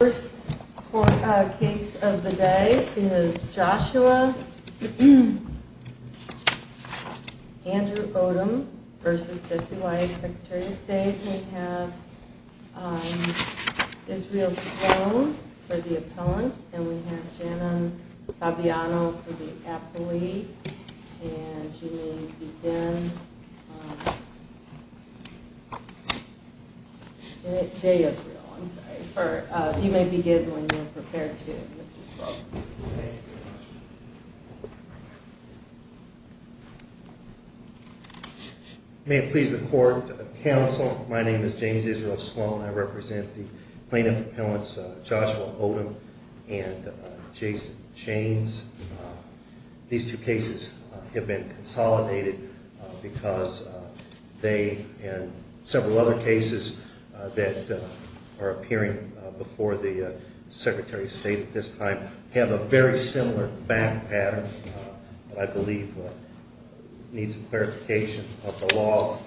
First case of the day is Joshua Andrew Odom v. Jesse White, Secretary of State. We have Israel Sloan for the appellant, and we have Janan Fabiano for the appellee. You may begin when you're prepared to, Mr. Sloan. May it please the Court, Counsel, my name is James Israel Sloan. I represent the plaintiff appellants Joshua Odom and Jason James. These two cases have been consolidated because they, and several other cases that are appearing before the Secretary of State at this time, have a very similar fact pattern that I believe needs clarification of the law.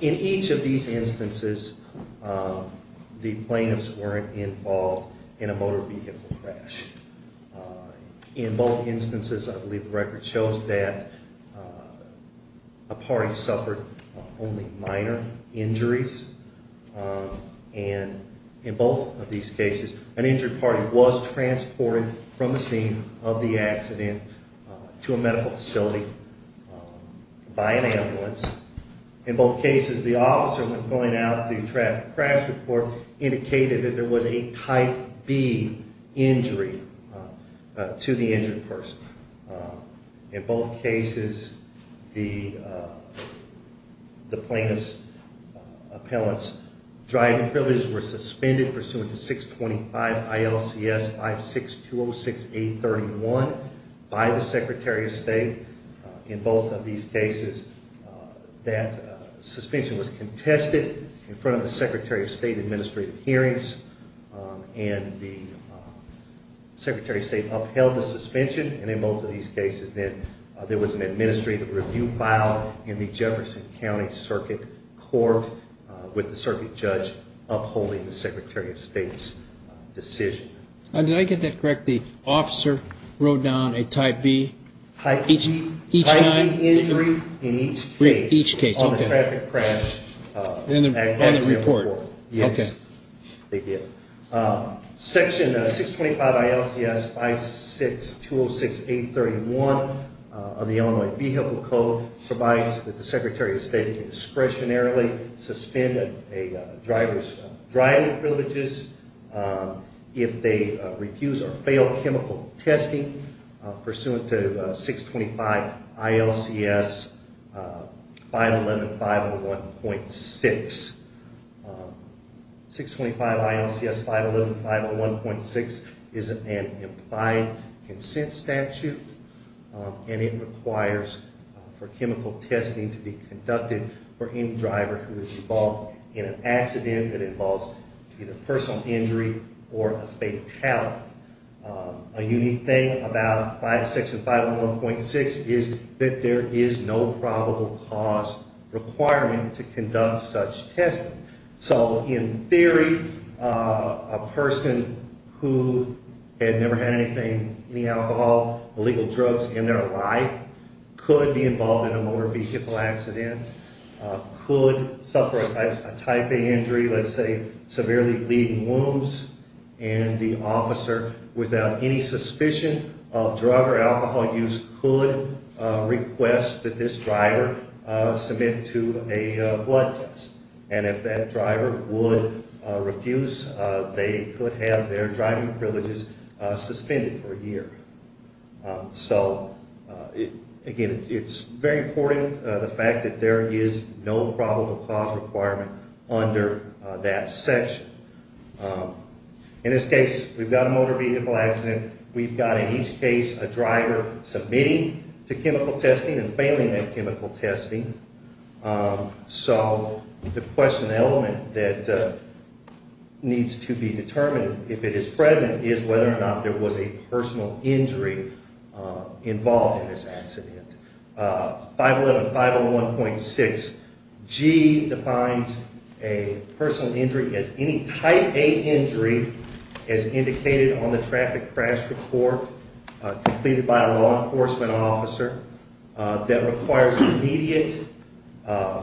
In each of these instances, the plaintiffs weren't involved in a motor vehicle crash. In both instances, I believe the record shows that a party suffered only minor injuries. And in both of these cases, an injured party was transported from the scene of the accident to a medical facility by an ambulance. In both cases, the officer, when filling out the traffic crash report, indicated that there was a type B injury to the injured person. In both cases, the plaintiff's appellant's driving privileges were suspended pursuant to 625 ILCS 56206831 by the Secretary of State. In both of these cases, that suspension was contested in front of the Secretary of State administrative hearings, and the Secretary of State upheld the suspension. And in both of these cases, then, there was an administrative review filed in the Jefferson County Circuit Court with the circuit judge upholding the Secretary of State's decision. Did I get that correct? The officer wrote down a type B each time? Type B injury in each case on the traffic crash accident report. Yes, they did. Section 625 ILCS 56206831 of the Illinois Vehicle Code provides that the Secretary of State can discretionarily suspend a driver's driving privileges if they refuse or fail chemical testing pursuant to 625 ILCS 511501.6. 625 ILCS 511501.6 is an implied consent statute, and it requires for chemical testing to be conducted for any driver who is involved in an accident that involves either personal injury or a fatality. A unique thing about Section 511.6 is that there is no probable cause requirement to conduct such testing. So, in theory, a person who had never had anything, any alcohol, illegal drugs in their life, could be involved in a motor vehicle accident, could suffer a type A injury, let's say severely bleeding wounds, and the officer, without any suspicion of drug or alcohol use, could request that this driver submit to a blood test. And if that driver would refuse, they could have their driving privileges suspended for a year. So, again, it's very important, the fact that there is no probable cause requirement under that section. In this case, we've got a motor vehicle accident. We've got, in each case, a driver submitting to chemical testing and failing that chemical testing. So, the question element that needs to be determined, if it is present, is whether or not there was a personal injury involved in this accident. 511.501.6G defines a personal injury as any type A injury, as indicated on the traffic crash report completed by a law enforcement officer, that requires immediate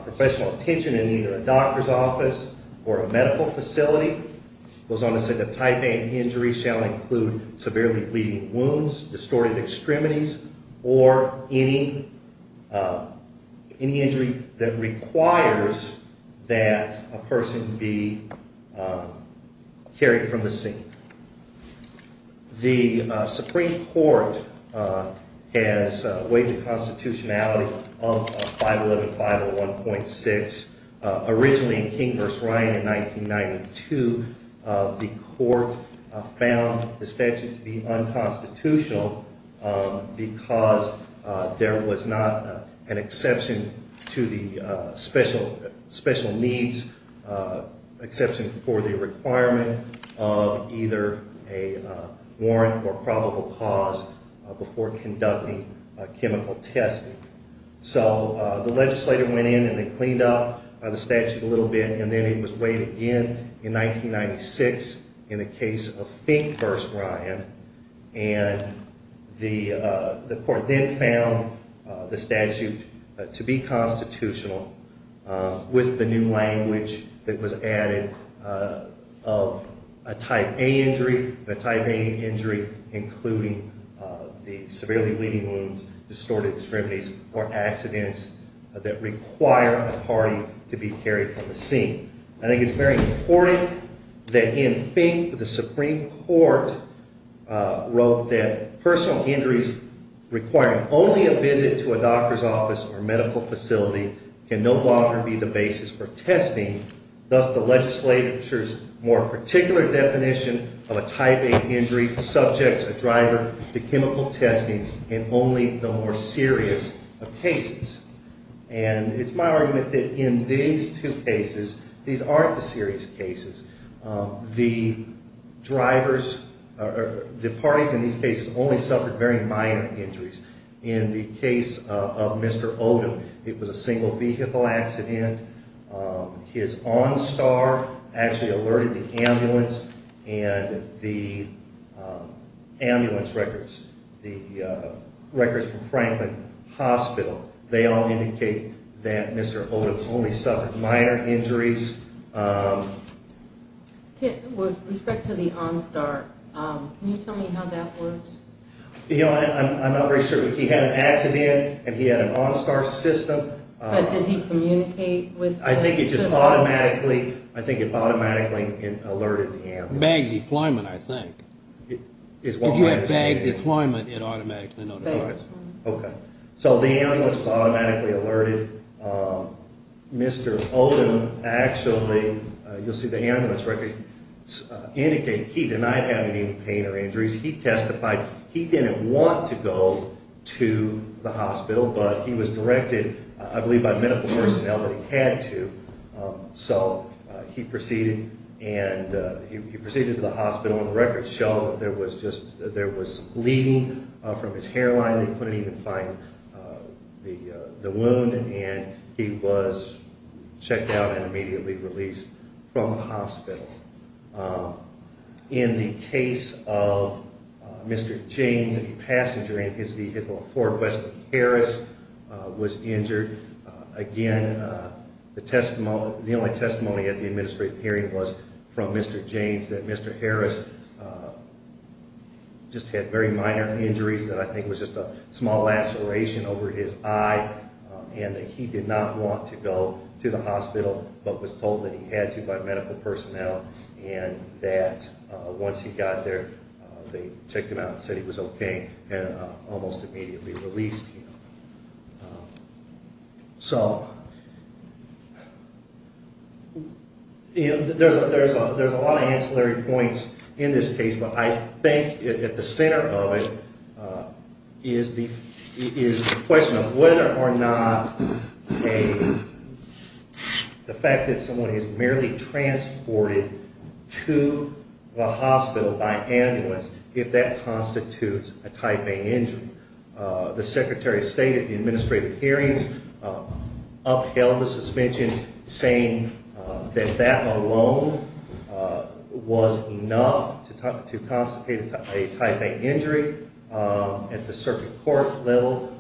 professional attention in either a doctor's office or a medical facility. It goes on to say that type A injuries shall include severely bleeding wounds, distorted extremities, or any injury that requires that a person be carried from the scene. The Supreme Court has waived the constitutionality of 511.501.6. Originally in King v. Ryan in 1992, the court found the statute to be unconstitutional because there was not an exception to the special needs, exception for the requirement of either a warrant or probable cause before conducting chemical testing. So, the legislator went in and cleaned up the statute a little bit, and then it was waived again in 1996 in the case of Fink v. Ryan. And the court then found the statute to be constitutional with the new language that was added of a type A injury, and a type A injury including the severely bleeding wounds, distorted extremities, or accidents that require a party to be carried from the scene. I think it's very important that in Fink, the Supreme Court wrote that personal injuries requiring only a visit to a doctor's office or medical facility can no longer be the basis for testing, thus the legislature's more particular definition of a type A injury subjects a driver to chemical testing in only the more serious of cases. And it's my argument that in these two cases, these aren't the serious cases, the parties in these cases only suffered very minor injuries. In the case of Mr. Odom, it was a single vehicle accident. His on-star actually alerted the ambulance and the ambulance records, the records from Franklin Hospital, they all indicate that Mr. Odom only suffered minor injuries. With respect to the on-star, can you tell me how that works? I'm not very sure, but he had an accident and he had an on-star system. But did he communicate with the ambulance? I think it just automatically alerted the ambulance. Bag deployment, I think. If you have bag deployment, it automatically notifies. Okay. So the ambulance was automatically alerted. Mr. Odom actually, you'll see the ambulance records indicate he denied having any pain or injuries. He testified he didn't want to go to the hospital, but he was directed, I believe, by medical personnel that he had to. So he proceeded to the hospital, and the records show that there was bleeding from his hairline. They couldn't even find the wound, and he was checked out and immediately released from the hospital. In the case of Mr. James, a passenger in his vehicle, a Ford Westin Harris, was injured. Again, the only testimony at the administrative hearing was from Mr. James, that Mr. Harris just had very minor injuries that I think was just a small laceration over his eye, and that he did not want to go to the hospital, but was told that he had to by medical personnel, and that once he got there, they checked him out and said he was okay, and almost immediately released him. So there's a lot of ancillary points in this case, but I think at the center of it is the question of whether or not the fact that someone is merely transported to the hospital by ambulance, if that constitutes a type A injury. The Secretary of State at the administrative hearings upheld the suspension, saying that that alone was enough to constitute a type A injury. At the circuit court level,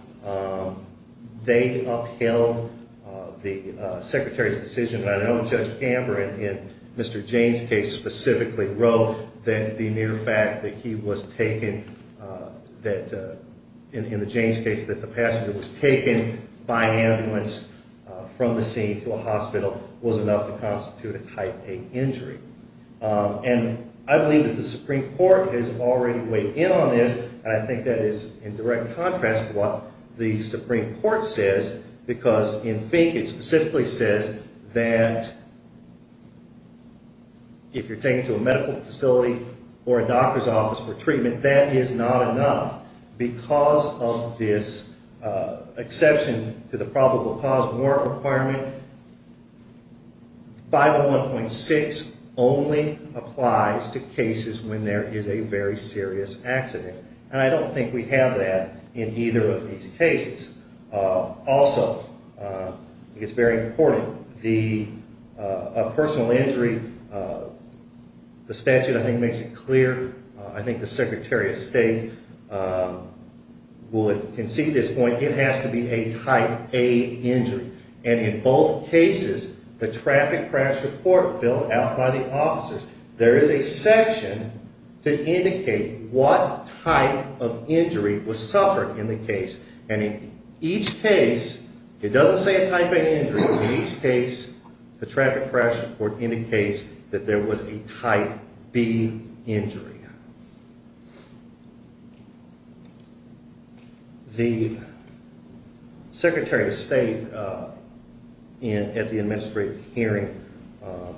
they upheld the Secretary's decision, and I know Judge Gamber in Mr. James' case specifically wrote that the mere fact that he was taken, in the James case, that the passenger was taken by ambulance from the scene to a hospital was enough to constitute a type A injury. And I believe that the Supreme Court has already weighed in on this, and I think that is in direct contrast to what the Supreme Court says, because in Fink it specifically says that if you're taken to a medical facility or a doctor's office for treatment, that is not enough. Because of this exception to the probable cause warrant requirement, 501.6 only applies to cases when there is a very serious accident. And I don't think we have that in either of these cases. Also, it's very important, a personal injury, the statute I think makes it clear, I think the Secretary of State would concede this point, it has to be a type A injury. And in both cases, the traffic crash report filled out by the officers, there is a section to indicate what type of injury was suffered in the case. And in each case, it doesn't say a type A injury, but in each case, the traffic crash report indicates that there was a type B injury. The Secretary of State at the administrative hearing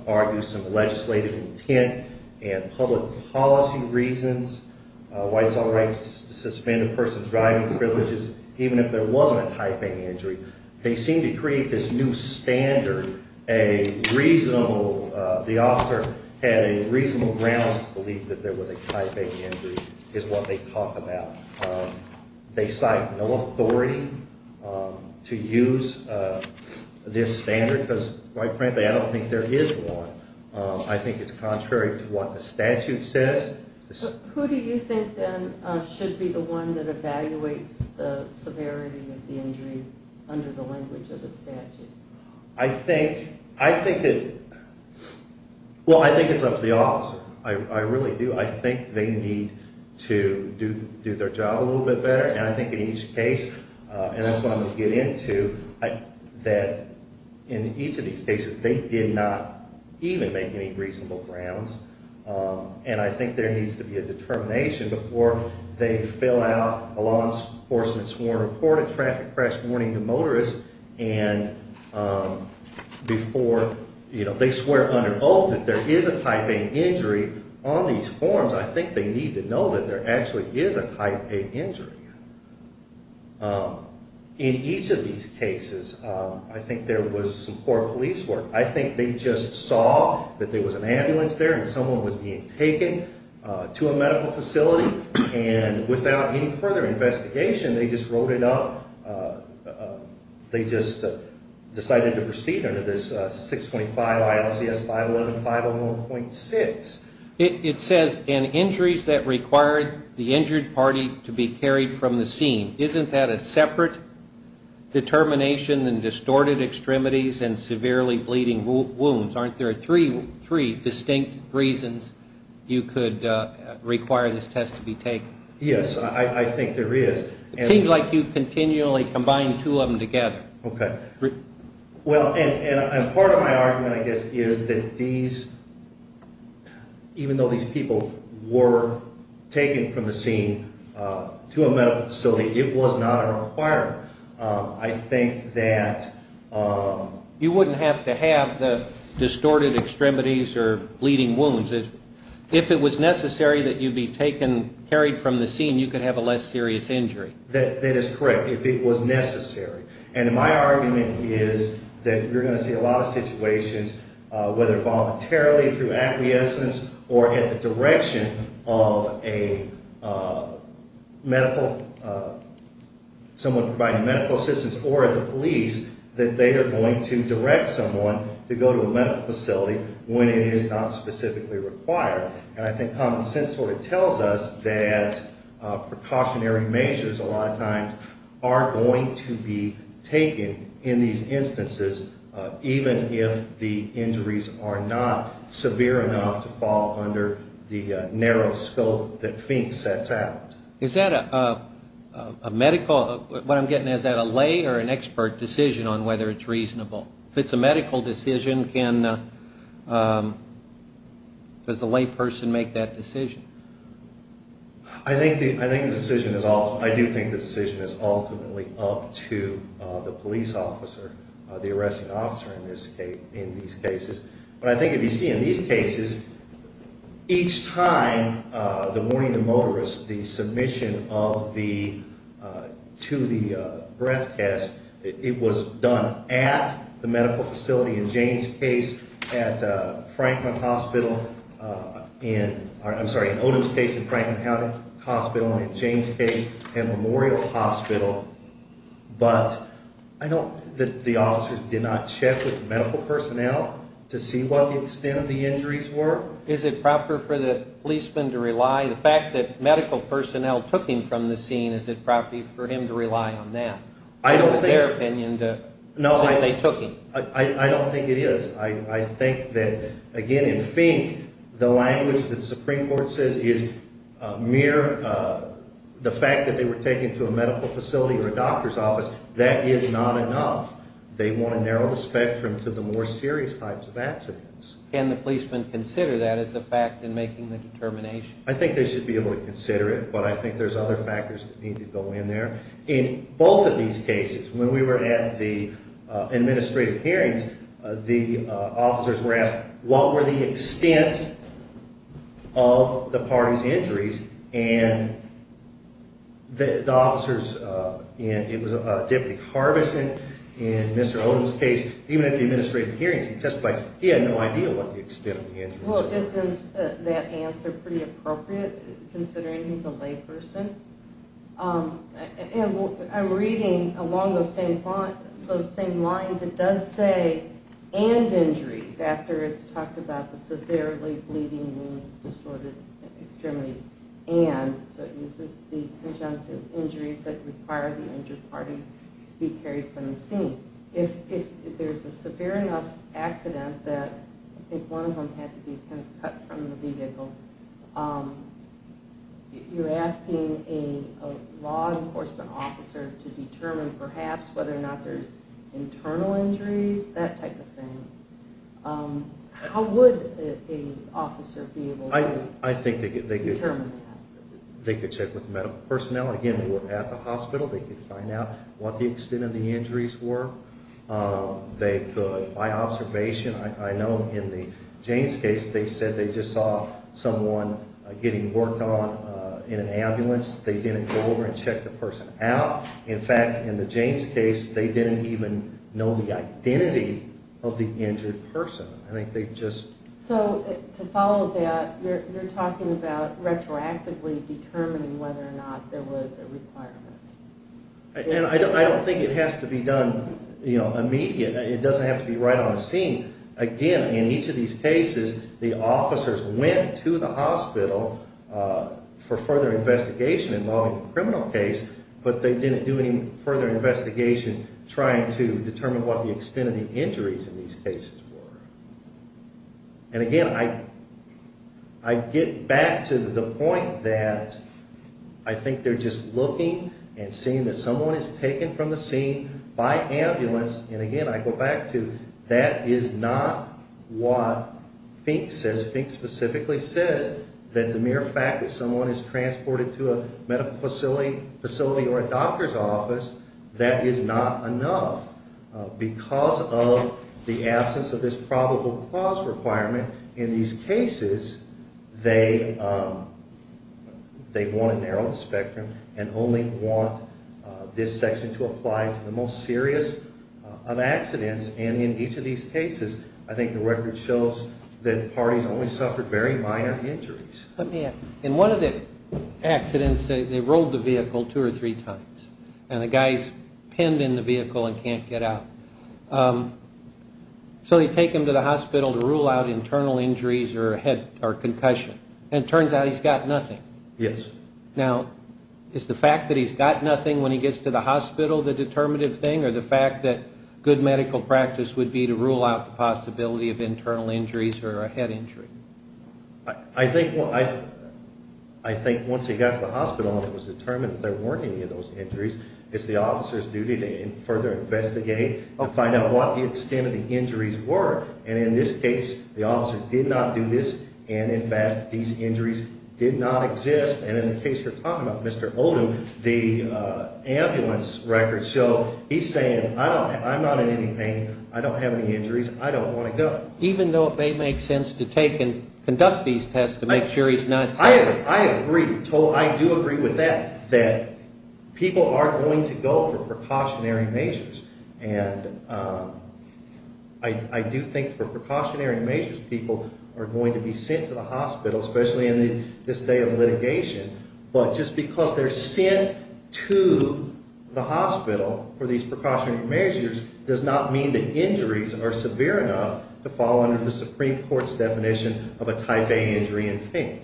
argues some legislative intent and public policy reasons, why it's all right to suspend a person's driving privileges, even if there wasn't a type A injury. They seem to create this new standard, a reasonable, the officer had a reasonable grounds to believe that there was a type A injury, is what they talk about. They cite no authority to use this standard, because quite frankly, I don't think there is one. I think it's contrary to what the statute says. Who do you think then should be the one that evaluates the severity of the injury under the language of the statute? I think it's up to the officer. I really do. I think they need to do their job a little bit better. And I think in each case, and that's what I'm going to get into, that in each of these cases, they did not even make any reasonable grounds. And I think there needs to be a determination before they fill out a law enforcement sworn report, a traffic crash warning to motorists, and before they swear under oath that there is a type A injury on these forms. I think they need to know that there actually is a type A injury. In each of these cases, I think there was some poor police work. I think they just saw that there was an ambulance there and someone was being taken to a medical facility, and without any further investigation, they just wrote it up. They just decided to proceed under this 625 ILCS 511-501.6. It says, in injuries that require the injured party to be carried from the scene, isn't that a separate determination than distorted extremities and severely bleeding wounds? Aren't there three distinct reasons you could require this test to be taken? Yes, I think there is. It seems like you continually combine two of them together. Okay. Well, and part of my argument, I guess, is that these, even though these people were taken from the scene to a medical facility, it was not a requirement. I think that... You wouldn't have to have the distorted extremities or bleeding wounds. If it was necessary that you be taken, carried from the scene, you could have a less serious injury. That is correct, if it was necessary. And my argument is that you're going to see a lot of situations, whether voluntarily, through acquiescence, or at the direction of someone providing medical assistance or the police, that they are going to direct someone to go to a medical facility when it is not specifically required. And I think common sense sort of tells us that precautionary measures, a lot of times, are going to be taken in these instances, even if the injuries are not severe enough to fall under the narrow scope that FINKS sets out. Is that a medical... What I'm getting at, is that a lay or an expert decision on whether it's reasonable? If it's a medical decision, can... Does the lay person make that decision? I think the decision is ultimately up to the police officer, the arresting officer, in these cases. But I think if you see in these cases, each time the warning to motorists, the submission to the breath test, it was done at the medical facility, in Jane's case, at Franklin Hospital, in Odom's case, at Franklin Hospital, and in Jane's case, at Memorial Hospital. But I know that the officers did not check with medical personnel to see what the extent of the injuries were. Is it proper for the policeman to rely... The fact that medical personnel took him from the scene, is it proper for him to rely on that? I don't think... What was their opinion since they took him? I don't think it is. I think that, again, in FINKS, the language that the Supreme Court says is mere... The fact that they were taken to a medical facility or a doctor's office, that is not enough. They want to narrow the spectrum to the more serious types of accidents. Can the policeman consider that as a fact in making the determination? I think they should be able to consider it, but I think there's other factors that need to go in there. In both of these cases, when we were at the administrative hearings, the officers were asked, what were the extent of the party's injuries? And the officers, and it was Deputy Harbison, in Mr. Odom's case, even at the administrative hearings he testified, he had no idea what the extent of the injuries were. Well, isn't that answer pretty appropriate, considering he's a layperson? And I'm reading along those same lines, it does say, and injuries, after it's talked about the severely bleeding wounds, distorted extremities, and, so it uses the conjunctive injuries that require the injured party to be carried from the scene. If there's a severe enough accident that, I think one of them had to be cut from the vehicle, if you're asking a law enforcement officer to determine perhaps whether or not there's internal injuries, that type of thing, how would an officer be able to determine that? I think they could check with medical personnel, again, who were at the hospital, they could find out what the extent of the injuries were. They could, by observation, I know in the Jaynes case, they said they just saw someone getting worked on in an ambulance. They didn't go over and check the person out. In fact, in the Jaynes case, they didn't even know the identity of the injured person. So, to follow that, you're talking about retroactively determining whether or not there was a requirement. I don't think it has to be done immediate, it doesn't have to be right on the scene. Again, in each of these cases, the officers went to the hospital for further investigation involving the criminal case, but they didn't do any further investigation trying to determine what the extent of the injuries in these cases were. And again, I get back to the point that I think they're just looking and seeing that someone is taken from the scene by ambulance, and again, I go back to that is not what FINK says. FINK specifically says that the mere fact that someone is transported to a medical facility or a doctor's office, that is not enough. Because of the absence of this probable cause requirement in these cases, they want to narrow the spectrum and only want this section to apply to the most serious of accidents. And in each of these cases, I think the record shows that parties only suffered very minor injuries. Let me add, in one of the accidents, they rolled the vehicle two or three times, and the guy's pinned in the vehicle and can't get out. So they take him to the hospital to rule out internal injuries or a head or concussion, and it turns out he's got nothing. Yes. Now, is the fact that he's got nothing when he gets to the hospital the determinative thing, or the fact that good medical practice would be to rule out the possibility of internal injuries or a head injury? I think once he got to the hospital and it was determined that there weren't any of those injuries, it's the officer's duty to further investigate to find out what the extent of the injuries were. And in this case, the officer did not do this, and in fact, these injuries did not exist. And in the case you're talking about, Mr. Odom, the ambulance records show he's saying, I'm not in any pain, I don't have any injuries, I don't want to go. Even though it may make sense to take and conduct these tests to make sure he's not sick. I agree. I do agree with that, that people are going to go for precautionary measures. And I do think for precautionary measures, people are going to be sent to the hospital, especially in this day of litigation. But just because they're sent to the hospital for these precautionary measures does not mean that injuries are severe enough to fall under the Supreme Court's definition of a type A injury in FINK.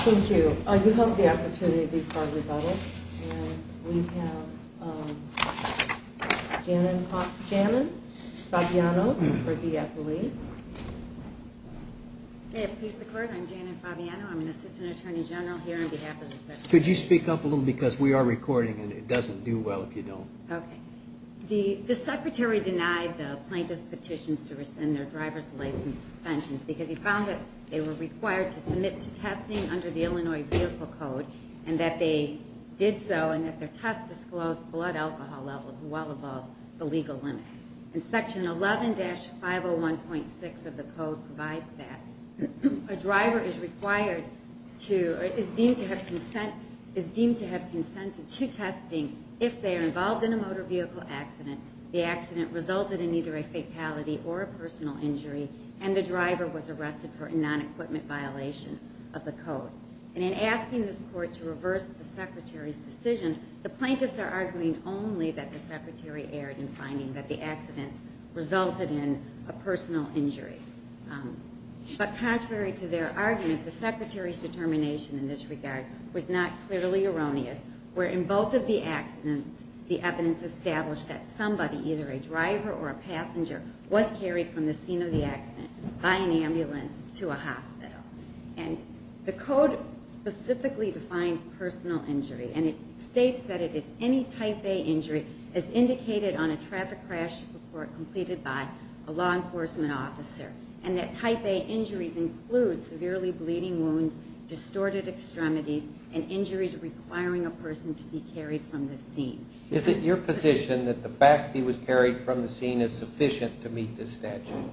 Thank you. You have the opportunity to be part of the bubble. And we have Janan Fabiano for the appellee. May it please the Court, I'm Janan Fabiano. I'm an Assistant Attorney General here on behalf of the Secretary. Could you speak up a little, because we are recording and it doesn't do well if you don't. Okay. The Secretary denied the plaintiff's petitions to rescind their driver's license suspensions because he found that they were required to submit to testing under the Illinois Vehicle Code and that they did so and that their test disclosed blood alcohol levels well above the legal limit. And Section 11-501.6 of the Code provides that a driver is deemed to have consented to testing if they are involved in a motor vehicle accident, the accident resulted in either a fatality or a personal injury, and the driver was arrested for a non-equipment violation of the Code. And in asking this Court to reverse the Secretary's decision, the plaintiffs are arguing only that the Secretary erred in finding that the accident resulted in a personal injury. But contrary to their argument, the Secretary's determination in this regard was not clearly erroneous, where in both of the accidents the evidence established that somebody, either a driver or a passenger, was carried from the scene of the accident by an ambulance to a hospital. And the Code specifically defines personal injury, and it states that it is any type A injury as indicated on a traffic crash report completed by a law enforcement officer, and that type A injuries include severely bleeding wounds, distorted extremities, and injuries requiring a person to be carried from the scene. Is it your position that the fact he was carried from the scene is sufficient to meet this statute?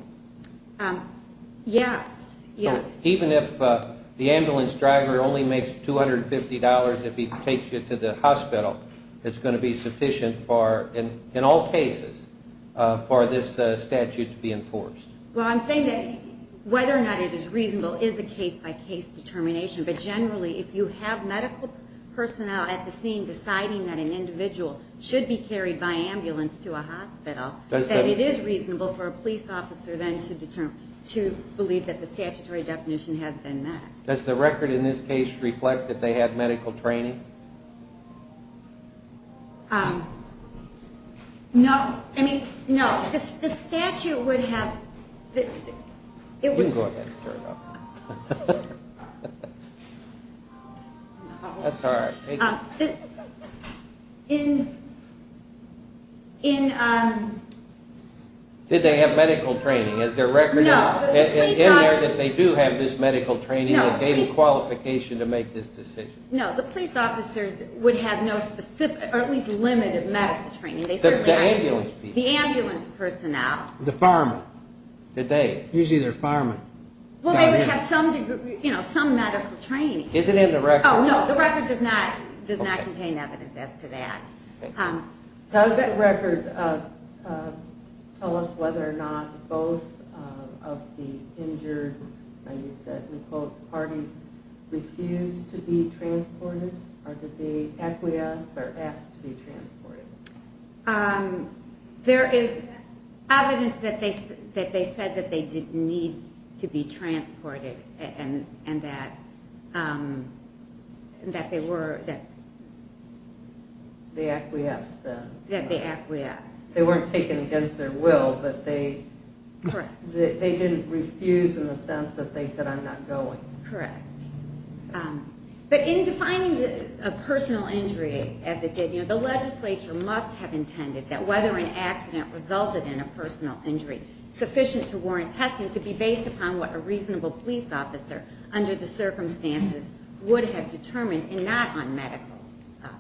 Yes. Even if the ambulance driver only makes $250 if he takes you to the hospital, it's going to be sufficient in all cases for this statute to be enforced? Well, I'm saying that whether or not it is reasonable is a case-by-case determination, but generally if you have medical personnel at the scene deciding that an individual should be carried by ambulance to a hospital, that it is reasonable for a police officer then to believe that the statutory definition has been met. Does the record in this case reflect that they had medical training? No. No, I mean, no, the statute would have... You can go ahead and turn it off. That's all right. In... Did they have medical training? Is there record in there that they do have this medical training that gave them qualification to make this decision? No, the police officers would have no specific, or at least limited medical training. The ambulance personnel. The firemen, did they? Usually they're firemen. Well, they would have some medical training. Is it in the record? Oh, no, the record does not contain evidence as to that. Does the record tell us whether or not both of the injured parties refused to be transported or did they acquiesce or ask to be transported? There is evidence that they said that they did need to be transported and that they were... They acquiesced then. They acquiesced. They weren't taken against their will, but they didn't refuse in the sense that they said, I'm not going. Correct. But in defining a personal injury as it did, the legislature must have intended that whether an accident resulted in a personal injury sufficient to warrant testing to be based upon what a reasonable police officer under the circumstances would have determined and not on medical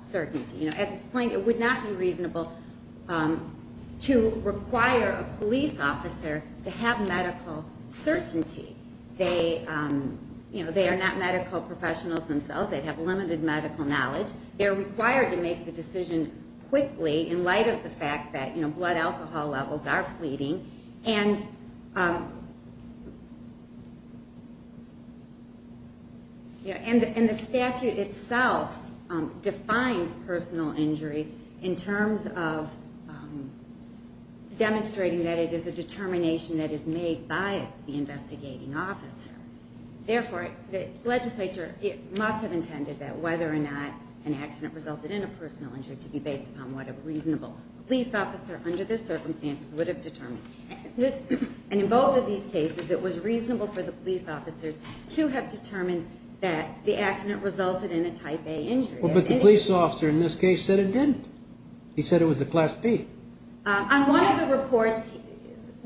certainty. As explained, it would not be reasonable to require a police officer to have medical certainty. They are not medical professionals themselves. They have limited medical knowledge. They're required to make the decision quickly in light of the fact that blood alcohol levels are fleeting. And the statute itself defines personal injury in terms of demonstrating that it is a determination that is made by the investigating officer. Therefore, the legislature must have intended that whether or not an accident resulted in a personal injury to be based upon what a reasonable police officer under the circumstances would have determined. And in both of these cases, it was reasonable for the police officers to have determined that the accident resulted in a type A injury. But the police officer in this case said it didn't. He said it was a class B. On one of the reports,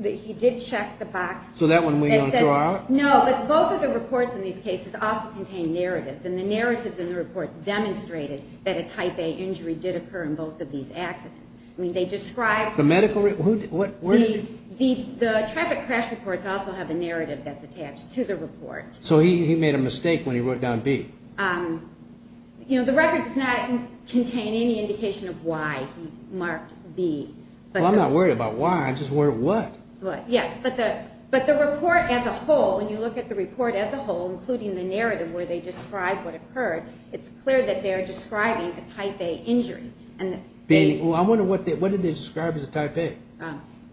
he did check the box. So that one we don't throw out? No, but both of the reports in these cases also contain narratives. And the narratives in the reports demonstrated that a type A injury did occur in both of these accidents. I mean, they described the medical report. The traffic crash reports also have a narrative that's attached to the report. So he made a mistake when he wrote down B. You know, the record does not contain any indication of why he marked B. Well, I'm not worried about why. I'm just worried what. Yes, but the report as a whole, when you look at the report as a whole, including the narrative where they describe what occurred, it's clear that they're describing a type A injury. I wonder what did they describe as a type A?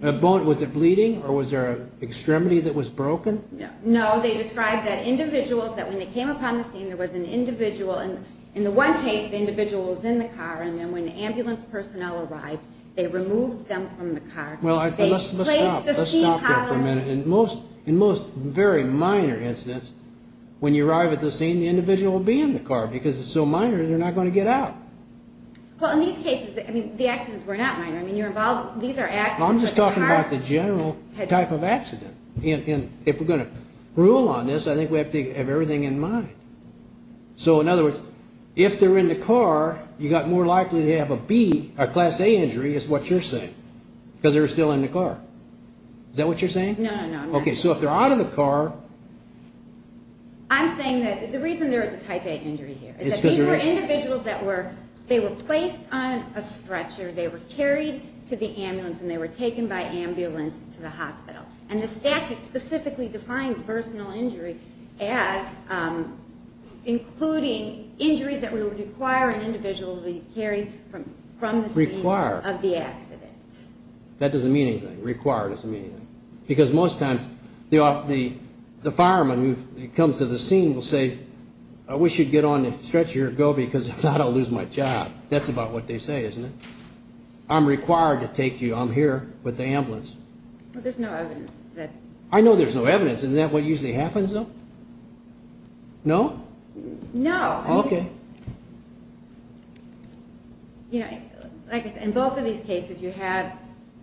Was it bleeding or was there an extremity that was broken? No, they described that individuals, that when they came upon the scene, there was an individual. In the one case, the individual was in the car, and then when the ambulance personnel arrived, they removed them from the car. Well, let's stop there for a minute. In most very minor incidents, when you arrive at the scene, the individual will be in the car because it's so minor they're not going to get out. Well, in these cases, I mean, the accidents were not minor. I mean, you're involved. I'm just talking about the general type of accident. If we're going to rule on this, I think we have to have everything in mind. So, in other words, if they're in the car, you got more likely to have a B, a class A injury is what you're saying because they're still in the car. Is that what you're saying? No, no, no. Okay, so if they're out of the car. I'm saying that the reason there is a type A injury here is that these were individuals that were placed on a stretcher. They were carried to the ambulance and they were taken by ambulance to the hospital. And the statute specifically defines personal injury as including injuries that would require an individual to be carried from the scene of the accident. That doesn't mean anything. Require doesn't mean anything. Because most times, the fireman who comes to the scene will say, I wish you'd get on the stretcher and go because if not, I'll lose my job. That's about what they say, isn't it? I'm required to take you. I'm here with the ambulance. Well, there's no evidence. I know there's no evidence. Isn't that what usually happens though? No? No. Okay. In both of these cases, you have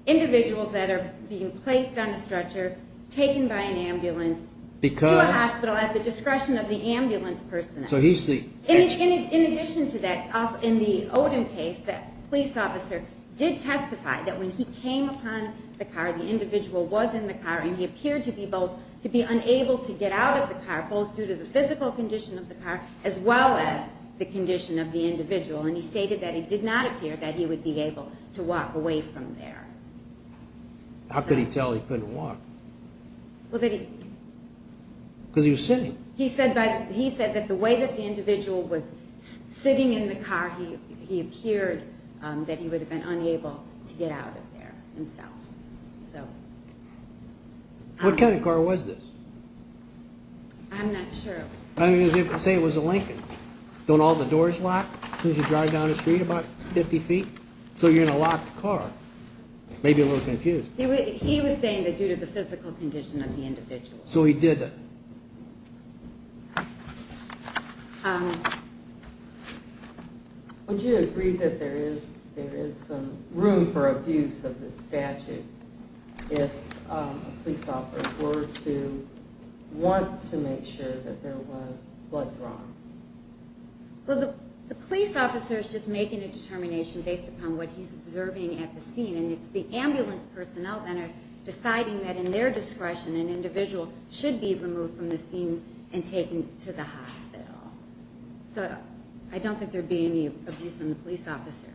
individuals that are being placed on a stretcher, taken by an ambulance to a hospital at the discretion of the ambulance person. In addition to that, in the Odom case, the police officer did testify that when he came upon the car, the individual was in the car and he appeared to be unable to get out of the car, both due to the physical condition of the car as well as the condition of the individual. And he stated that it did not appear that he would be able to walk away from there. How could he tell he couldn't walk? Because he was sitting. He said that the way that the individual was sitting in the car, he appeared that he would have been unable to get out of there himself. What kind of car was this? I'm not sure. I mean, say it was a Lincoln. Don't all the doors lock as soon as you drive down the street about 50 feet? So you're in a locked car. Maybe a little confused. He was saying that due to the physical condition of the individual. So he did it. Would you agree that there is some room for abuse of this statute if a police officer were to want to make sure that there was blood drawn? Well, the police officer is just making a determination based upon what he's observing at the scene. And it's the ambulance personnel that are deciding that in their discretion an individual should be removed from the scene and taken to the hospital. So I don't think there would be any abuse on the police officer.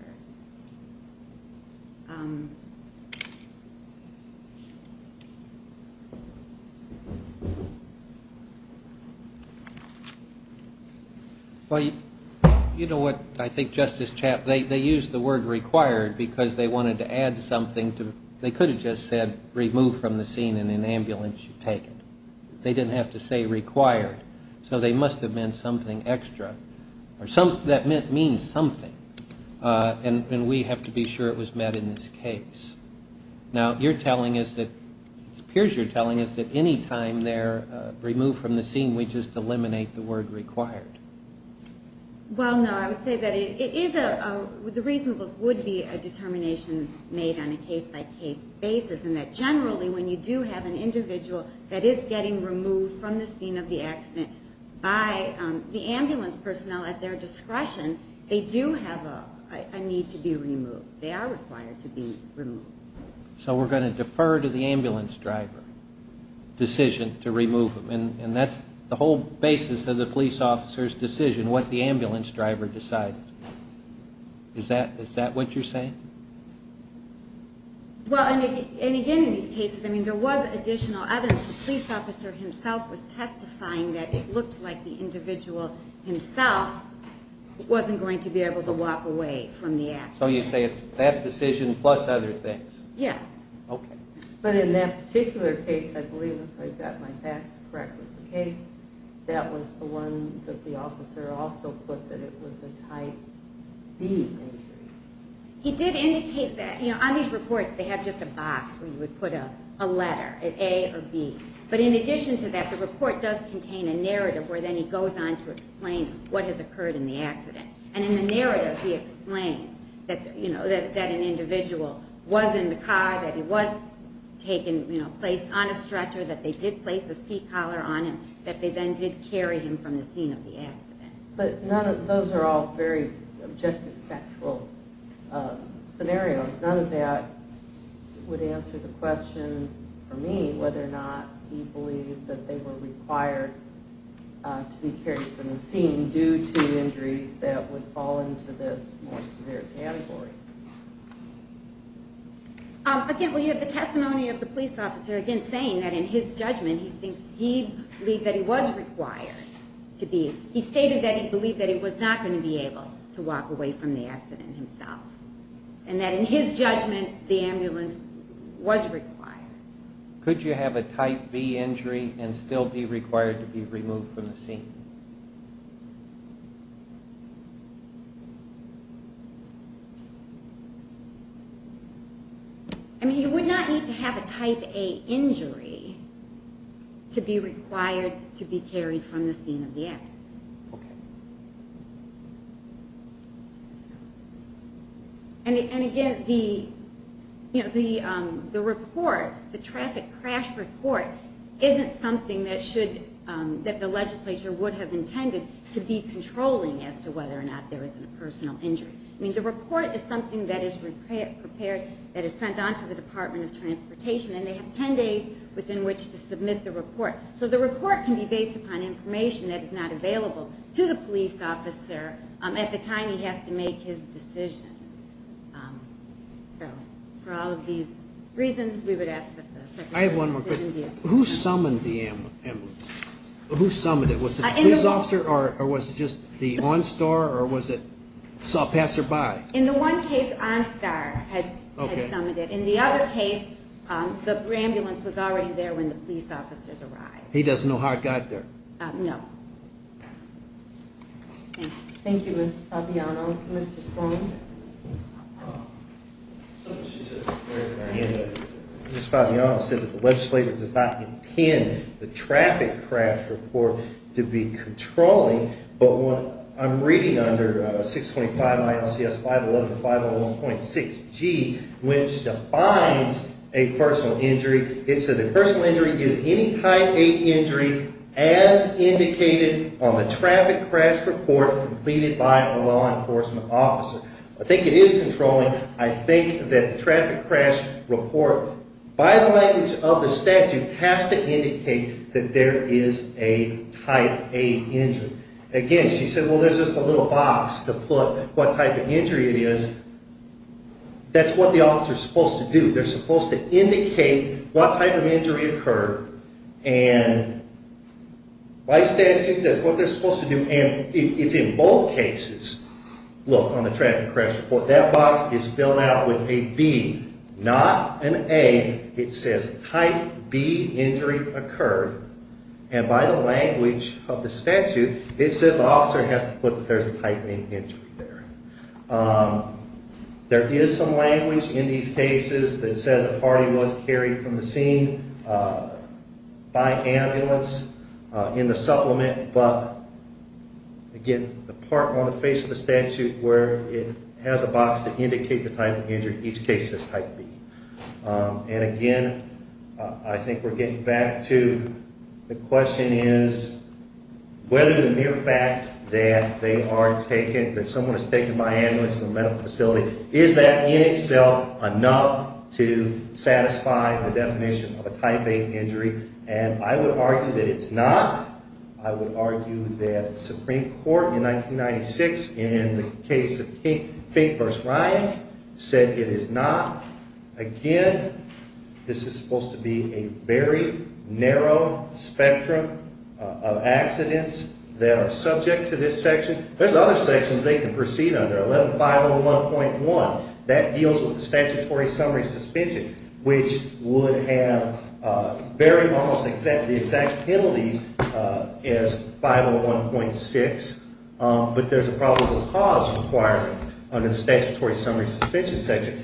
Well, you know what? I think Justice Chapman, they used the word required because they wanted to add something. They could have just said remove from the scene and an ambulance should take it. They didn't have to say required. So they must have meant something extra. That means something. And we have to be sure it was met in this case. Now, it appears you're telling us that any time they're removed from the scene, we just eliminate the word required. Well, no. I would say that the reasonables would be a determination made on a case-by-case basis and that generally when you do have an individual that is getting removed from the scene of the accident by the ambulance personnel at their discretion, they do have a need to be removed. They are required to be removed. So we're going to defer to the ambulance driver decision to remove them. And that's the whole basis of the police officer's decision, and what the ambulance driver decided. Is that what you're saying? Well, and again, in these cases, I mean, there was additional evidence. The police officer himself was testifying that it looked like the individual himself wasn't going to be able to walk away from the accident. So you say it's that decision plus other things. Yes. Okay. But in that particular case, I believe, if I've got my facts correct with the case, that was the one that the officer also put that it was a type B injury. He did indicate that. You know, on these reports they have just a box where you would put a letter, an A or B. But in addition to that, the report does contain a narrative where then he goes on to explain what has occurred in the accident. And in the narrative he explains that, you know, that an individual was in the car, that he was taken, you know, placed on a stretcher, that they did place a seat collar on him, that they then did carry him from the scene of the accident. But none of those are all very objective factual scenarios. None of that would answer the question for me whether or not he believed that they were required to be carried from the scene due to injuries that would fall into this more severe category. Again, well, you have the testimony of the police officer, again, saying that in his judgment he believed that he was required to be. He stated that he believed that he was not going to be able to walk away from the accident himself, and that in his judgment the ambulance was required. Could you have a type B injury and still be required to be removed from the scene? I mean, you would not need to have a type A injury to be required to be carried from the scene of the accident. And again, the report, the traffic crash report, isn't something that should that the legislature would have intended to be controlling as to whether or not there is a personal injury. I mean, the report is something that is prepared, that is sent on to the Department of Transportation, and they have ten days within which to submit the report. So the report can be based upon information that is not available to the police officer at the time he has to make his decision. So for all of these reasons, we would ask that the Secretary of Who summoned it? Was it the police officer or was it just the OnStar, or was it SawPasserBy? In the one case, OnStar had summoned it. In the other case, the ambulance was already there when the police officers arrived. He doesn't know how it got there? No. Thank you, Mr. Fabiano. Mr. Sloan? Mr. Fabiano said that the legislature does not intend the traffic crash report to be controlling. But what I'm reading under 625-511-501.6G, which defines a personal injury, it says a personal injury is any type of injury as indicated on the traffic crash report completed by a law enforcement officer. I think it is controlling. I think that the traffic crash report, by the language of the statute, has to indicate that there is a type A injury. Again, she said, well, there's just a little box to put what type of injury it is. That's what the officer is supposed to do. They're supposed to indicate what type of injury occurred. And by statute, that's what they're supposed to do. And it's in both cases. Look, on the traffic crash report, that box is filled out with a B, not an A. It says type B injury occurred. And by the language of the statute, it says the officer has to put that there's a type A injury there. There is some language in these cases that says a party was carried from the scene by ambulance in the supplement. But, again, the part on the face of the statute where it has a box to indicate the type of injury, each case says type B. And, again, I think we're getting back to the question is whether the mere fact that they are taken, that someone is taken by ambulance from a medical situation of a type A injury. And I would argue that it's not. I would argue that the Supreme Court in 1996 in the case of Fink v. Ryan said it is not. Again, this is supposed to be a very narrow spectrum of accidents that are subject to this section. There's other sections they can proceed under, 11-501.1. That deals with the statutory summary suspension, which would have very almost exact penalties as 501.6. But there's a probable cause requirement under the statutory summary suspension section.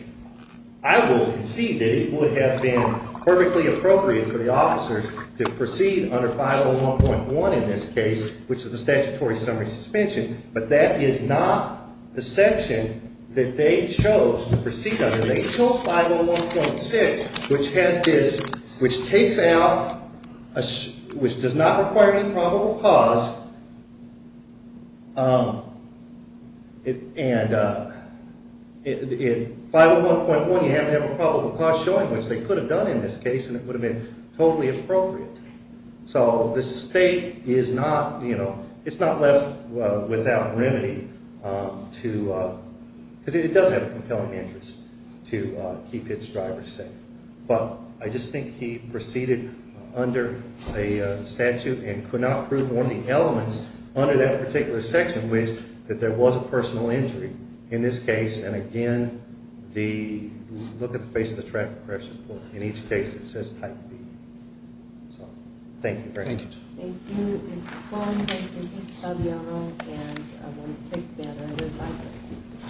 I will concede that it would have been perfectly appropriate for the officers to proceed under 501.1 in this case, which is the statutory summary suspension. But that is not the section that they chose to proceed under. They chose 501.6, which has this, which takes out, which does not require any probable cause. And in 501.1, you have to have a probable cause showing, which they could have done in this case, and it would have been totally appropriate. So the state is not, you know, it's not left without remedy to, because it does have a compelling interest to keep its drivers safe. But I just think he proceeded under a statute and could not prove one of the elements under that particular section, which, that there was a personal injury in this case. And, again, the, look at the face of the traffic correction report. In each case, it says type B. So, thank you very much. Thank you. Thank you. Mr. Cronin, thank you. Thank you, Mr. Fabiano. And I'm going to take that. Thank you. Thank you.